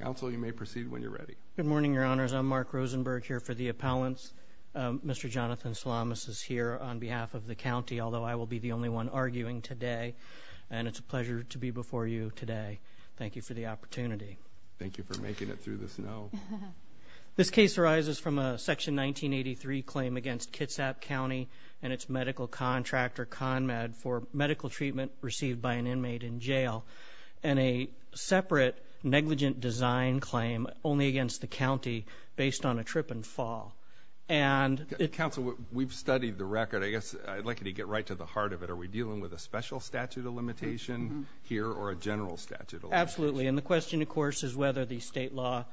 Council you may proceed when you're ready. Good morning, your honors. I'm Mark Rosenberg here for the appellants Mr. Jonathan Salamis is here on behalf of the county Although I will be the only one arguing today and it's a pleasure to be before you today. Thank you for the opportunity Thank you for making it through this. No This case arises from a section 1983 claim against Kitsap County and its medical contractor ConMed for medical treatment received by an inmate in jail and a Separate negligent design claim only against the county based on a trip and fall and Council we've studied the record. I guess I'd like you to get right to the heart of it Are we dealing with a special statute of limitation here or a general statute? Absolutely. And the question of course is whether the state law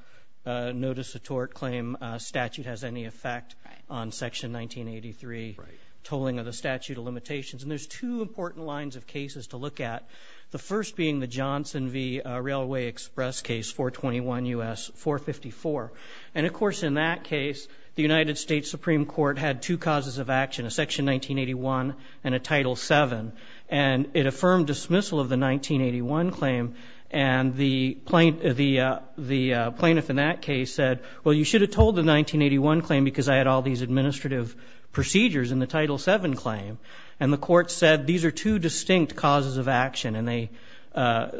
Notice of tort claim statute has any effect on section 1983 tolling of the statute of limitations and there's two important lines of cases to look at the first being the Johnson v Railway Express case 421 u.s. 454 and of course in that case the United States Supreme Court had two causes of action a section 1981 and a title 7 and it affirmed dismissal of the 1981 claim and the plaintiff the Plaintiff in that case said well, you should have told the 1981 claim because I had all these administrative procedures in the title 7 claim and the court said these are two distinct causes of action and they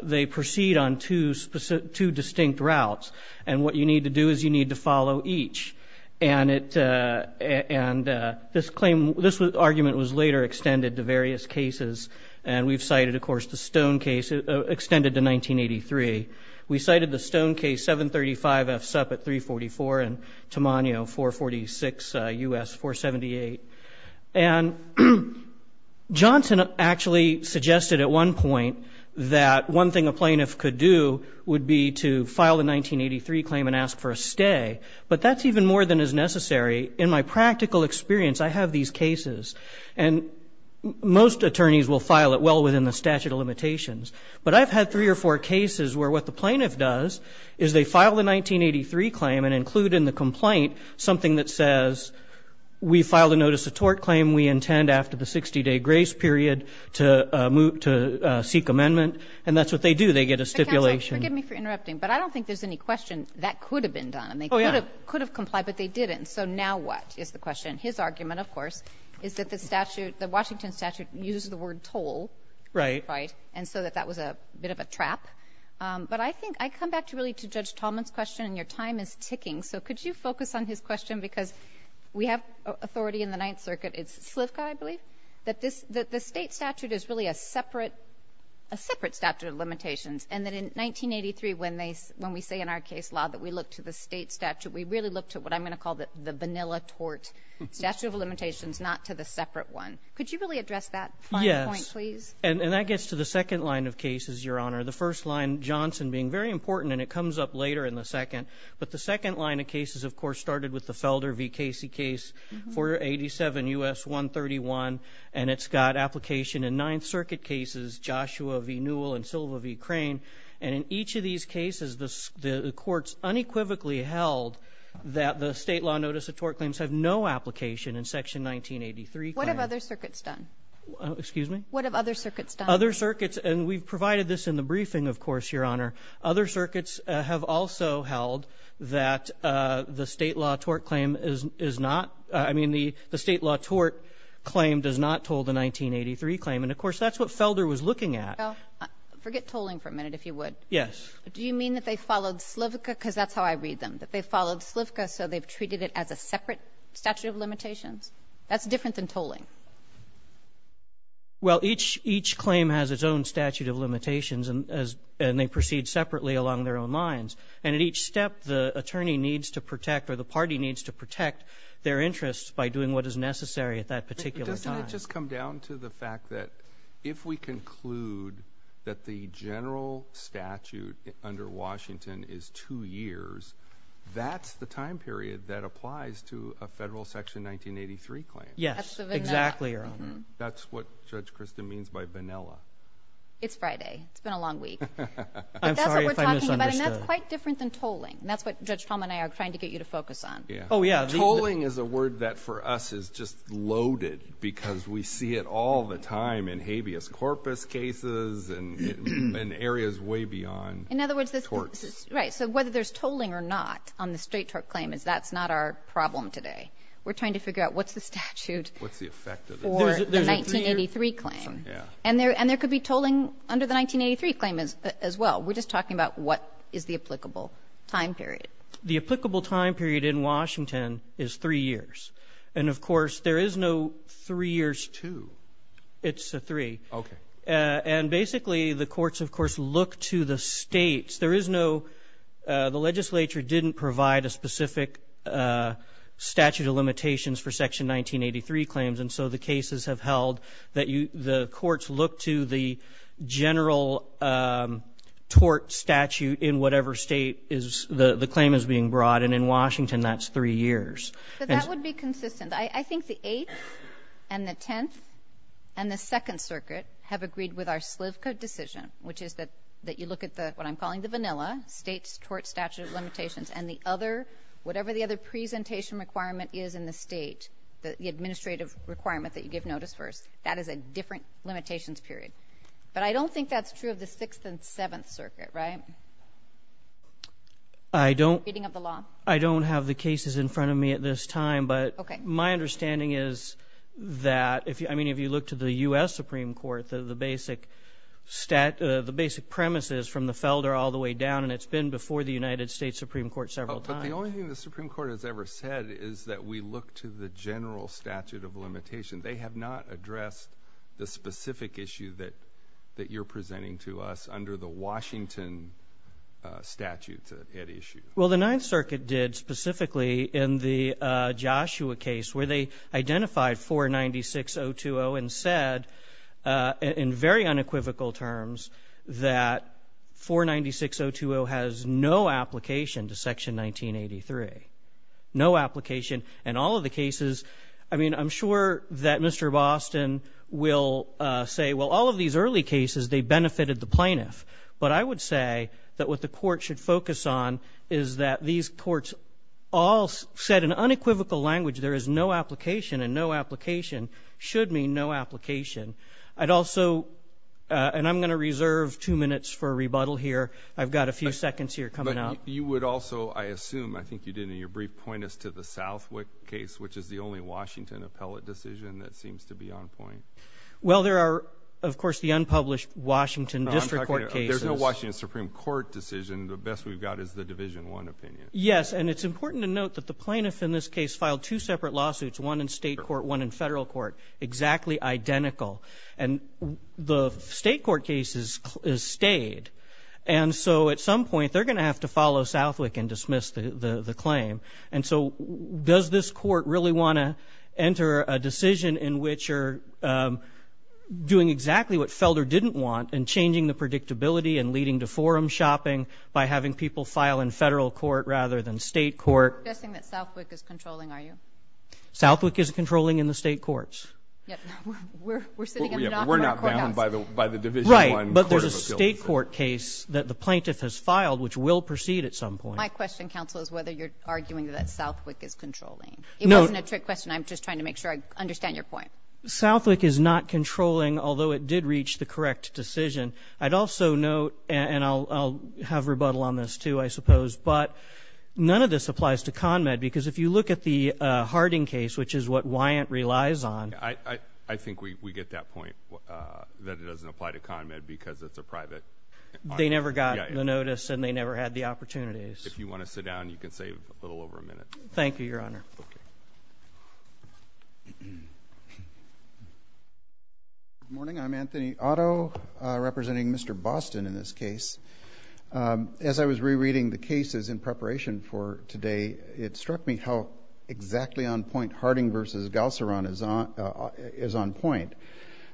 They proceed on two specific two distinct routes and what you need to do is you need to follow each and it And this claim this argument was later extended to various cases and we've cited of course the stone case Extended to 1983. We cited the stone case 735 f sup at 344 and tamano 446 u.s. 478 and Johnson actually suggested at one point that one thing a plaintiff could do would be to file the 1983 claim and ask for a stay but that's even more than is necessary in my practical experience. I have these cases and Most attorneys will file it well within the statute of limitations But I've had three or four cases where what the plaintiff does is they file the 1983 claim and include in the complaint? something that says We filed a notice of tort claim we intend after the 60-day grace period to move to seek amendment and that's what they do They get a stipulation But I don't think there's any question that could have been done and they could have could have complied but they didn't so now What is the question his argument? Of course, is that the statute the Washington statute uses the word toll, right? Right, and so that that was a bit of a trap But I think I come back to really to judge Talman's question and your time is ticking So could you focus on his question? Because we have authority in the Ninth Circuit. It's Slivka I believe that this that the state statute is really a separate a Separate statute of limitations and that in 1983 when they when we say in our case law that we look to the state statute We really look to what I'm gonna call that the vanilla tort statute of limitations not to the separate one Could you really address that? Yes, please and that gets to the second line of cases your honor the first line Johnson being very important and it comes up later in the second But the second line of cases, of course started with the Felder v Casey case for 87 us 131 and it's got application in Ninth Circuit cases Joshua v Newell and Silva v crane and in each of these cases the courts unequivocally held That the state law notice of tort claims have no application in section 1983. What have other circuits done? Excuse me, what have other circuits done other circuits and we've provided this in the briefing Of course your honor other circuits have also held that The state law tort claim is is not I mean the the state law tort Claim does not told the 1983 claim and of course, that's what Felder was looking at Forget tolling for a minute if you would yes Do you mean that they followed Slivka because that's how I read them that they followed Slivka So they've treated it as a separate statute of limitations. That's different than tolling well each each claim has its own statute of limitations and as and they proceed separately along their own lines and at each step the Attorney needs to protect or the party needs to protect their interests by doing what is necessary at that particular time Just come down to the fact that if we conclude that the general statute Under Washington is two years That's the time period that applies to a federal section 1983 claim. Yes, exactly That's what judge Kristen means by vanilla it's Friday, it's been a long week Quite different than tolling and that's what judge Tom and I are trying to get you to focus on Yeah Oh, yeah tolling is a word that for us is just loaded because we see it all the time in habeas corpus cases and In areas way beyond in other words this works, right? So whether there's tolling or not on the state tort claim is that's not our problem today We're trying to figure out what's the statute? What's the effect of the 1983 claim? Yeah, and there and there could be tolling under the 1983 claim is as well We're just talking about what is the applicable time period the applicable time period in Washington is three years And of course, there is no three years to it's a three Okay, and basically the courts of course look to the states. There is no The legislature didn't provide a specific Statute of limitations for section 1983 claims. And so the cases have held that you the courts look to the general Tort statute in whatever state is the the claim is being brought and in Washington, that's three years I think the eighth and the tenth and the second circuit have agreed with our Slivko decision Which is that that you look at the what I'm calling the vanilla States tort statute of limitations and the other Whatever the other presentation requirement is in the state the administrative requirement that you give notice first That is a different limitations period, but I don't think that's true of the sixth and seventh circuit, right? I Don't I don't have the cases in front of me at this time, but okay, my understanding is That if you I mean if you look to the US Supreme Court the basic Stat the basic premises from the Felder all the way down and it's been before the United States Supreme Court several times The Supreme Court has ever said is that we look to the general statute of limitation They have not addressed the specific issue that that you're presenting to us under the, Washington Statutes at issue. Well, the Ninth Circuit did specifically in the Joshua case where they identified for 96020 and said in very unequivocal terms that 496020 has no application to section 1983 No application and all of the cases. I mean, I'm sure that mr Boston will say well all of these early cases they benefited the plaintiff But I would say that what the court should focus on is that these courts all Said in unequivocal language. There is no application and no application should mean no application. I'd also And I'm gonna reserve two minutes for a rebuttal here I've got a few seconds here coming out you would also I assume I think you did in your brief point as to the South Wick case, which is the only Washington appellate decision that seems to be on point Well, there are of course the unpublished Washington district court case. There's no Washington Supreme Court decision The best we've got is the division one opinion Yes And it's important to note that the plaintiff in this case filed two separate lawsuits one in state court one in federal court exactly identical and The state court cases is stayed and so at some point they're gonna have to follow Southwick and dismiss the the claim and so does this court really want to enter a decision in which you're Doing exactly what Felder didn't want and changing the predictability and leading to forum shopping By having people file in federal court rather than state court Southwick is controlling in the state courts Right, but there's a state court case that the plaintiff has filed which will proceed at some point My question counsel is whether you're arguing that Southwick is controlling. It wasn't a trick question I'm just trying to make sure I understand your point Southwick is not controlling. Although it did reach the correct decision I'd also note and I'll have rebuttal on this too. I suppose but None of this applies to con med because if you look at the Harding case, which is what Wyatt relies on I I think we get that point That it doesn't apply to con med because it's a private They never got the notice and they never had the opportunities if you want to sit down you can save a little over a minute Thank you, Your Honor Morning I'm Anthony Otto representing, mr. Boston in this case As I was rereading the cases in preparation for today. It struck me how Exactly on point Harding versus Gauser on is on is on point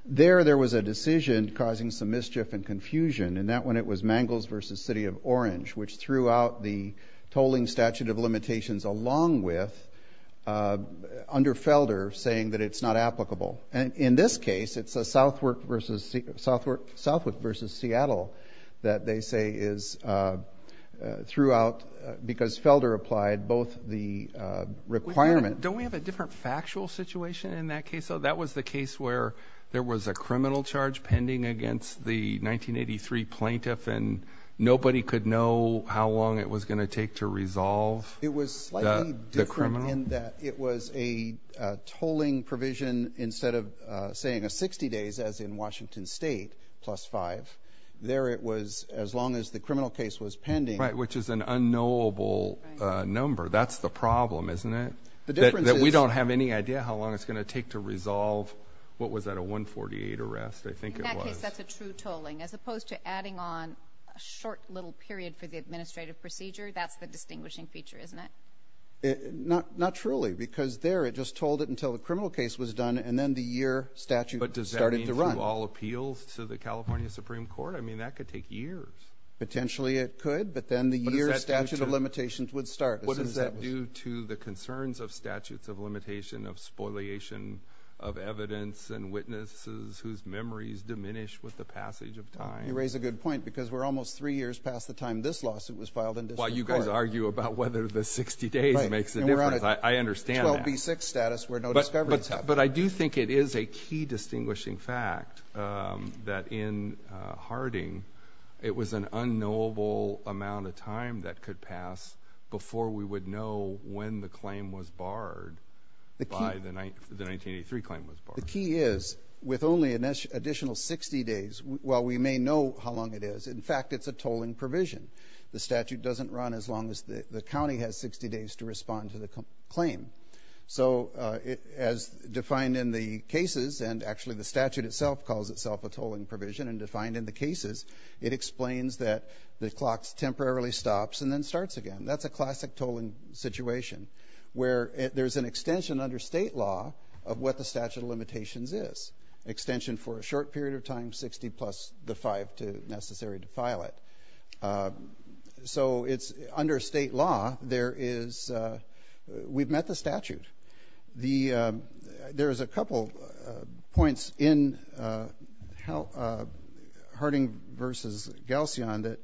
there there was a decision causing some mischief and confusion and that when it was Mangels versus City of Orange, which threw out the tolling statute of limitations along with Under Felder saying that it's not applicable and in this case it's a Southwick versus Southwick Southwick versus Seattle that they say is throughout because Felder applied both the Requirement don't we have a different factual situation in that case? so that was the case where there was a criminal charge pending against the 1983 plaintiff and nobody could know how long it was going to take to resolve it was It was a tolling provision instead of saying a 60 days as in Washington State plus five There it was as long as the criminal case was pending right, which is an unknowable Number that's the problem, isn't it? The difference that we don't have any idea how long it's gonna take to resolve What was that a 148 arrest? I think As opposed to adding on a short little period for the administrative procedure. That's the distinguishing feature, isn't it? Not not truly because there it just told it until the criminal case was done and then the year statute But does it run all appeals to the California Supreme Court? I mean that could take years Potentially it could but then the year statute of limitations would start what does that do to the concerns of statutes of limitation of spoliation of evidence and Witnesses whose memories diminish with the passage of time you raise a good point because we're almost three years past the time this lawsuit was Filed and while you guys argue about whether the 60 days makes it. I understand But I do think it is a key distinguishing fact that in Unknowable amount of time that could pass before we would know when the claim was barred The key the 1983 claim was the key is with only an additional 60 days Well, we may know how long it is In fact, it's a tolling provision the statute doesn't run as long as the county has 60 days to respond to the claim so it as Defined in the cases and actually the statute itself calls itself a tolling provision and defined in the cases It explains that the clocks temporarily stops and then starts again. That's a classic tolling situation Where there's an extension under state law of what the statute of limitations is Extension for a short period of time 60 plus the 5 to necessary to file it So it's under state law. There is we've met the statute the There's a couple points in how Harding versus Galsy on that.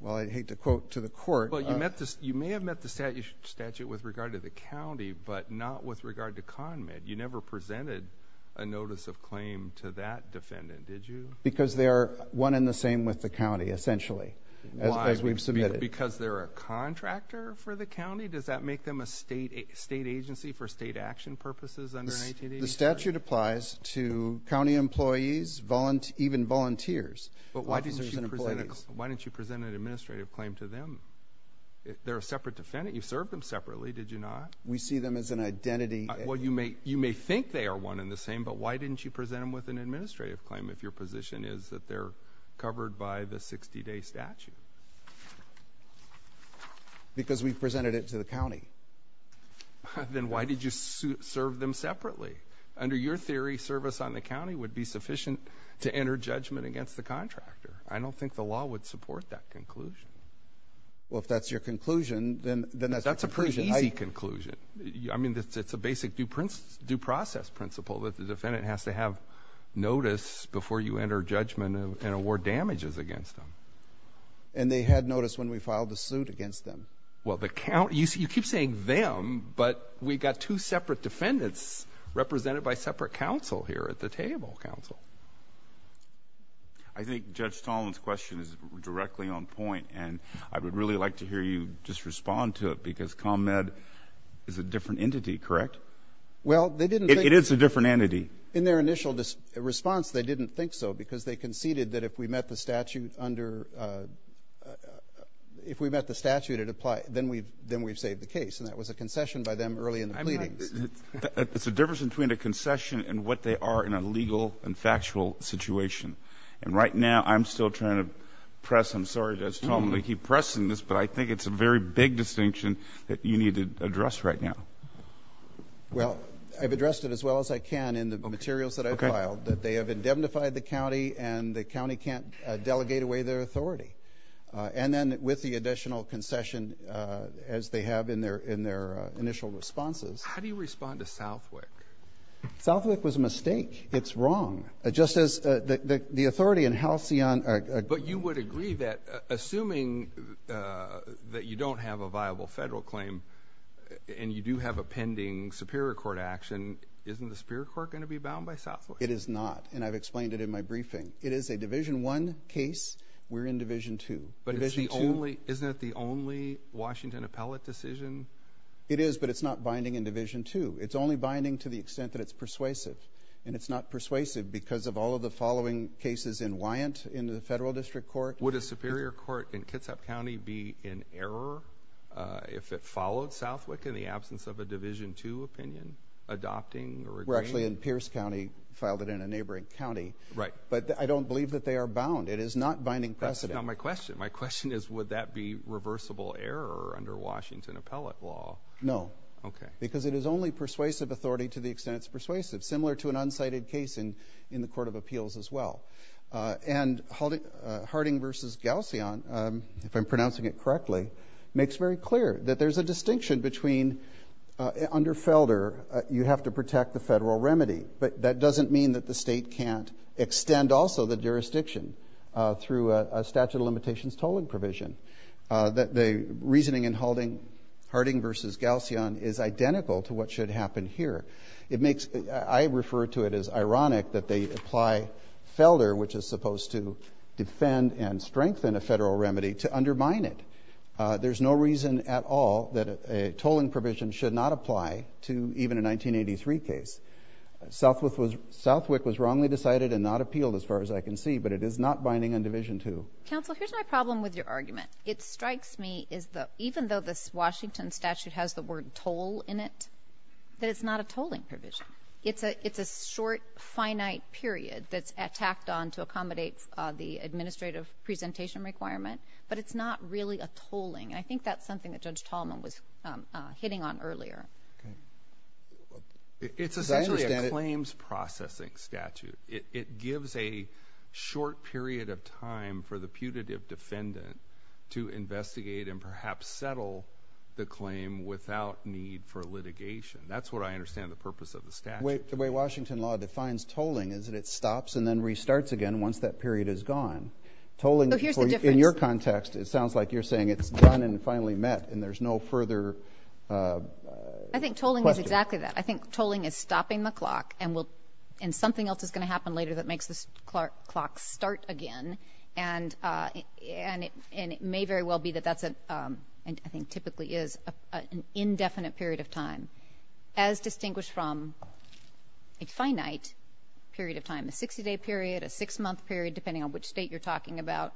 Well, I'd hate to quote to the court But you met this you may have met the statue statute with regard to the county but not with regard to conmed You never presented a notice of claim to that defendant Did you because they are one in the same with the county essentially as we've submitted because they're a contractor For the county does that make them a state a state agency for state action purposes under the statute applies to? County employees volunteer even volunteers, but why do you present it? Why didn't you present an administrative claim to them? They're a separate defendant. You served them separately. Did you not we see them as an identity? Well, you may you may think they are one in the same But why didn't you present them with an administrative claim if your position is that they're covered by the 60-day statute? Because we've presented it to the county Then why did you serve them separately under your theory service on the county would be sufficient to enter judgment against the contractor I don't think the law would support that conclusion Well, if that's your conclusion, then then that's a pretty easy conclusion I mean, that's it's a basic do prints due process principle that the defendant has to have Notice before you enter judgment and award damages against them and they had noticed when we filed a suit against them Well the count you see you keep saying them, but we got two separate defendants represented by separate counsel here at the table counsel, I Think judge Tolan's question is directly on point and I would really like to hear you just respond to it because ComEd Is a different entity, correct? Well, they didn't it is a different entity in their initial this response They didn't think so because they conceded that if we met the statute under If we met the statute it apply then we've then we've saved the case and that was a concession by them early in the pleading It's a difference between a concession and what they are in a legal and factual situation And right now I'm still trying to press. I'm sorry That's normally keep pressing this but I think it's a very big distinction that you need to address right now Well, I've addressed it as well as I can in the materials that I filed that they have indemnified the county and the county can't Authority and then with the additional concession as they have in their in their initial responses How do you respond to Southwick? Southwick was a mistake. It's wrong. Just as the authority in Halcyon, but you would agree that assuming That you don't have a viable federal claim And you do have a pending Superior Court action Isn't the Superior Court going to be bound by Southwood it is not and I've explained it in my briefing It is a division one case. We're in division two, but it is the only isn't it? The only Washington appellate decision it is but it's not binding in division two It's only binding to the extent that it's persuasive and it's not persuasive because of all of the following Cases in Wyant into the federal district court would a Superior Court in Kitsap County be in error If it followed Southwick in the absence of a division to opinion adopting or we're actually in Pierce County Filed it in a neighboring County, right, but I don't believe that they are bound. It is not binding precedent My question my question is would that be reversible error under Washington appellate law? No, okay, because it is only persuasive authority to the extent It's persuasive similar to an unsighted case in in the Court of Appeals as well and holding Harding versus Galsy on if I'm pronouncing it correctly makes very clear that there's a distinction between Under Felder you have to protect the federal remedy, but that doesn't mean that the state can't extend also the jurisdiction through a statute of limitations tolling provision That the reasoning and holding Harding versus Galsy on is identical to what should happen here It makes I refer to it as ironic that they apply Felder which is supposed to defend and strengthen a federal remedy to undermine it There's no reason at all that a tolling provision should not apply to even a 1983 case Southwith was Southwick was wrongly decided and not appealed as far as I can see But it is not binding on division to counsel. Here's my problem with your argument It strikes me is that even though this Washington statute has the word toll in it that it's not a tolling provision It's a it's a short finite period that's attacked on to accommodate the administrative presentation requirement But it's not really a tolling. I think that's something that judge Tallman was Hitting on earlier It's a claims processing statute it gives a short period of time for the putative defendant to Investigate and perhaps settle the claim without need for litigation That's what I understand the purpose of the statute the way Washington law defines tolling is that it stops and then restarts again once that Period is gone Tolling in your context. It sounds like you're saying it's done and finally met and there's no further I Think tolling is exactly that I think tolling is stopping the clock and will and something else is going to happen later that makes this Clark clock start again and and it and it may very well be that that's a and I think typically is an indefinite period of time as distinguished from a Talking about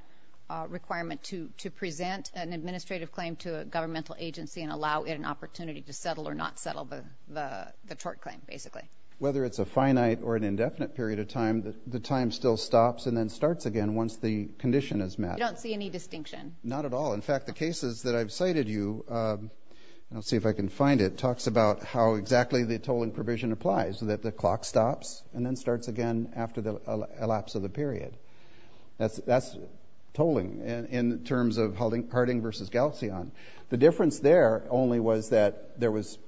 requirement to to present an administrative claim to a governmental agency and allow it an opportunity to settle or not settle the tort claim basically whether it's a finite or an indefinite period of time that the time still stops and then starts again once the Condition is met. I don't see any distinction. Not at all. In fact the cases that I've cited you I'll see if I can find it talks about how exactly the tolling provision applies that the clock stops and then starts again after the elapse of the period That's that's tolling and in terms of holding parting versus Galcian. The difference there only was that there was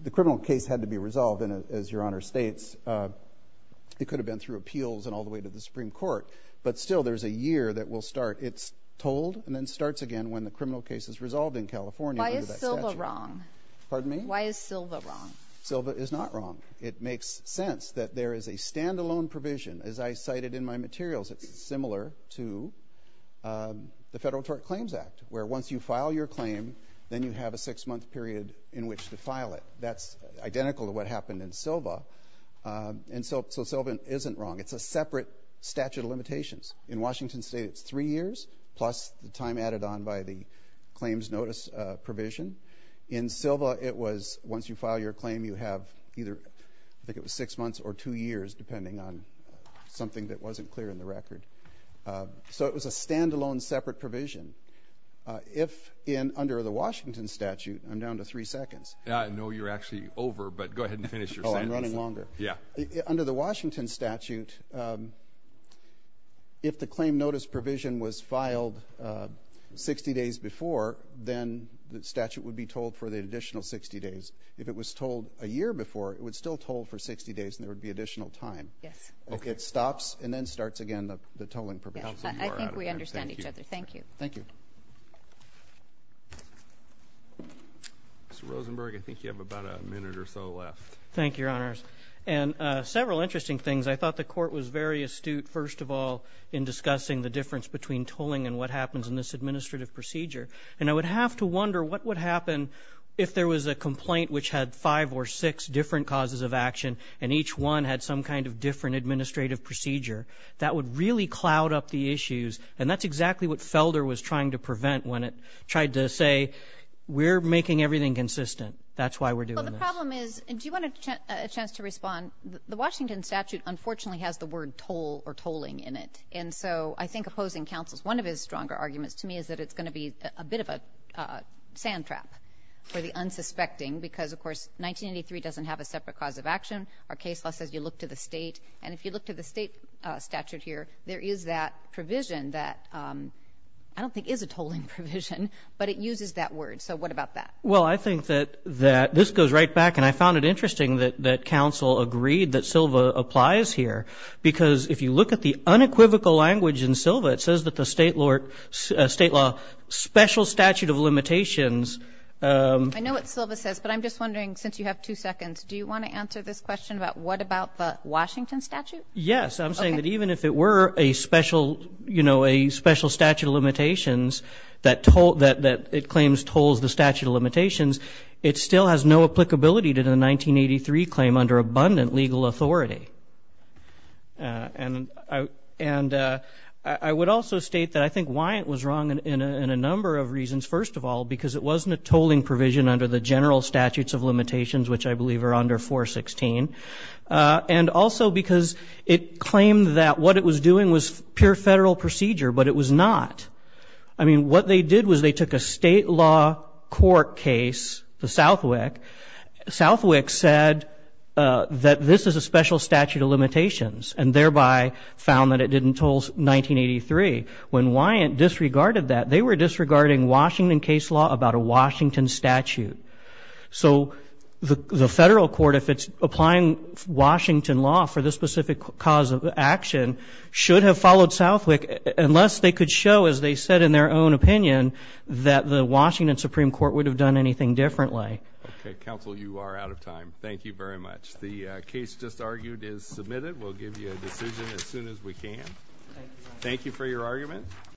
The criminal case had to be resolved in it as your honor states It could have been through appeals and all the way to the Supreme Court But still there's a year that will start it's told and then starts again when the criminal case is resolved in California Why is Silva wrong? Pardon me? Why is Silva wrong? Silva is not wrong It makes sense that there is a standalone provision as I cited in my materials. It's similar to The Federal Tort Claims Act where once you file your claim, then you have a six-month period in which to file it That's identical to what happened in Silva And so Sylvan isn't wrong. It's a separate statute of limitations in Washington State It's three years plus the time added on by the claims notice provision in Silva It was once you file your claim you have either I think it was six months or two years depending on Something that wasn't clear in the record So it was a standalone separate provision If in under the Washington statute, I'm down to three seconds. Yeah, I know you're actually over but go ahead and finish your Yeah under the Washington statute If the claim notice provision was filed 60 days before then the statute would be told for the additional 60 days If it was told a year before it would still toll for 60 days and there would be additional time Yes, okay, it stops and then starts again the tolling for I think we understand each other. Thank you. Thank you Rosenberg I think you have about a minute or so left. Thank your honors and First of all in Discussing the difference between tolling and what happens in this administrative procedure and I would have to wonder what would happen If there was a complaint which had five or six different causes of action and each one had some kind of different Administrative procedure that would really cloud up the issues and that's exactly what Felder was trying to prevent when it tried to say We're making everything consistent. That's why we're doing Do you want a chance to respond the Washington statute Unfortunately has the word toll or tolling in it and so I think opposing counsels one of his stronger arguments to me is that it's going to be a bit of a sand trap for the unsuspecting because of course 1983 doesn't have a separate cause of action our case law says you look to the state and if you look to the state Statute here. There is that provision that I don't think is a tolling provision, but it uses that word. So what about that? Well, I think that that this goes right back and I found it interesting that that counsel agreed that Silva applies here Because if you look at the unequivocal language in Silva, it says that the state Lord state law special statute of limitations I know what Silva says, but I'm just wondering since you have two seconds Do you want to answer this question about what about the Washington statute? Yes I'm saying that even if it were a special, you know Special statute of limitations that told that that it claims tolls the statute of limitations It still has no applicability to the 1983 claim under abundant legal authority and I and I would also state that I think why it was wrong in a number of reasons first of all because it wasn't a tolling Provision under the general statutes of limitations, which I believe are under 416 And also because it claimed that what it was doing was pure federal procedure, but it was not I mean What they did was they took a state law court case the Southwick Southwick said That this is a special statute of limitations and thereby found that it didn't tolls 1983 when why it disregarded that they were disregarding Washington case law about a Washington statute So the the federal court if it's applying Washington law for this specific cause of action should have followed Southwick unless they could show as they said in their own opinion That the Washington Supreme Court would have done anything differently Counsel you are out of time. Thank you very much. The case just argued is submitted. We'll give you a decision as soon as we can Thank you for your argument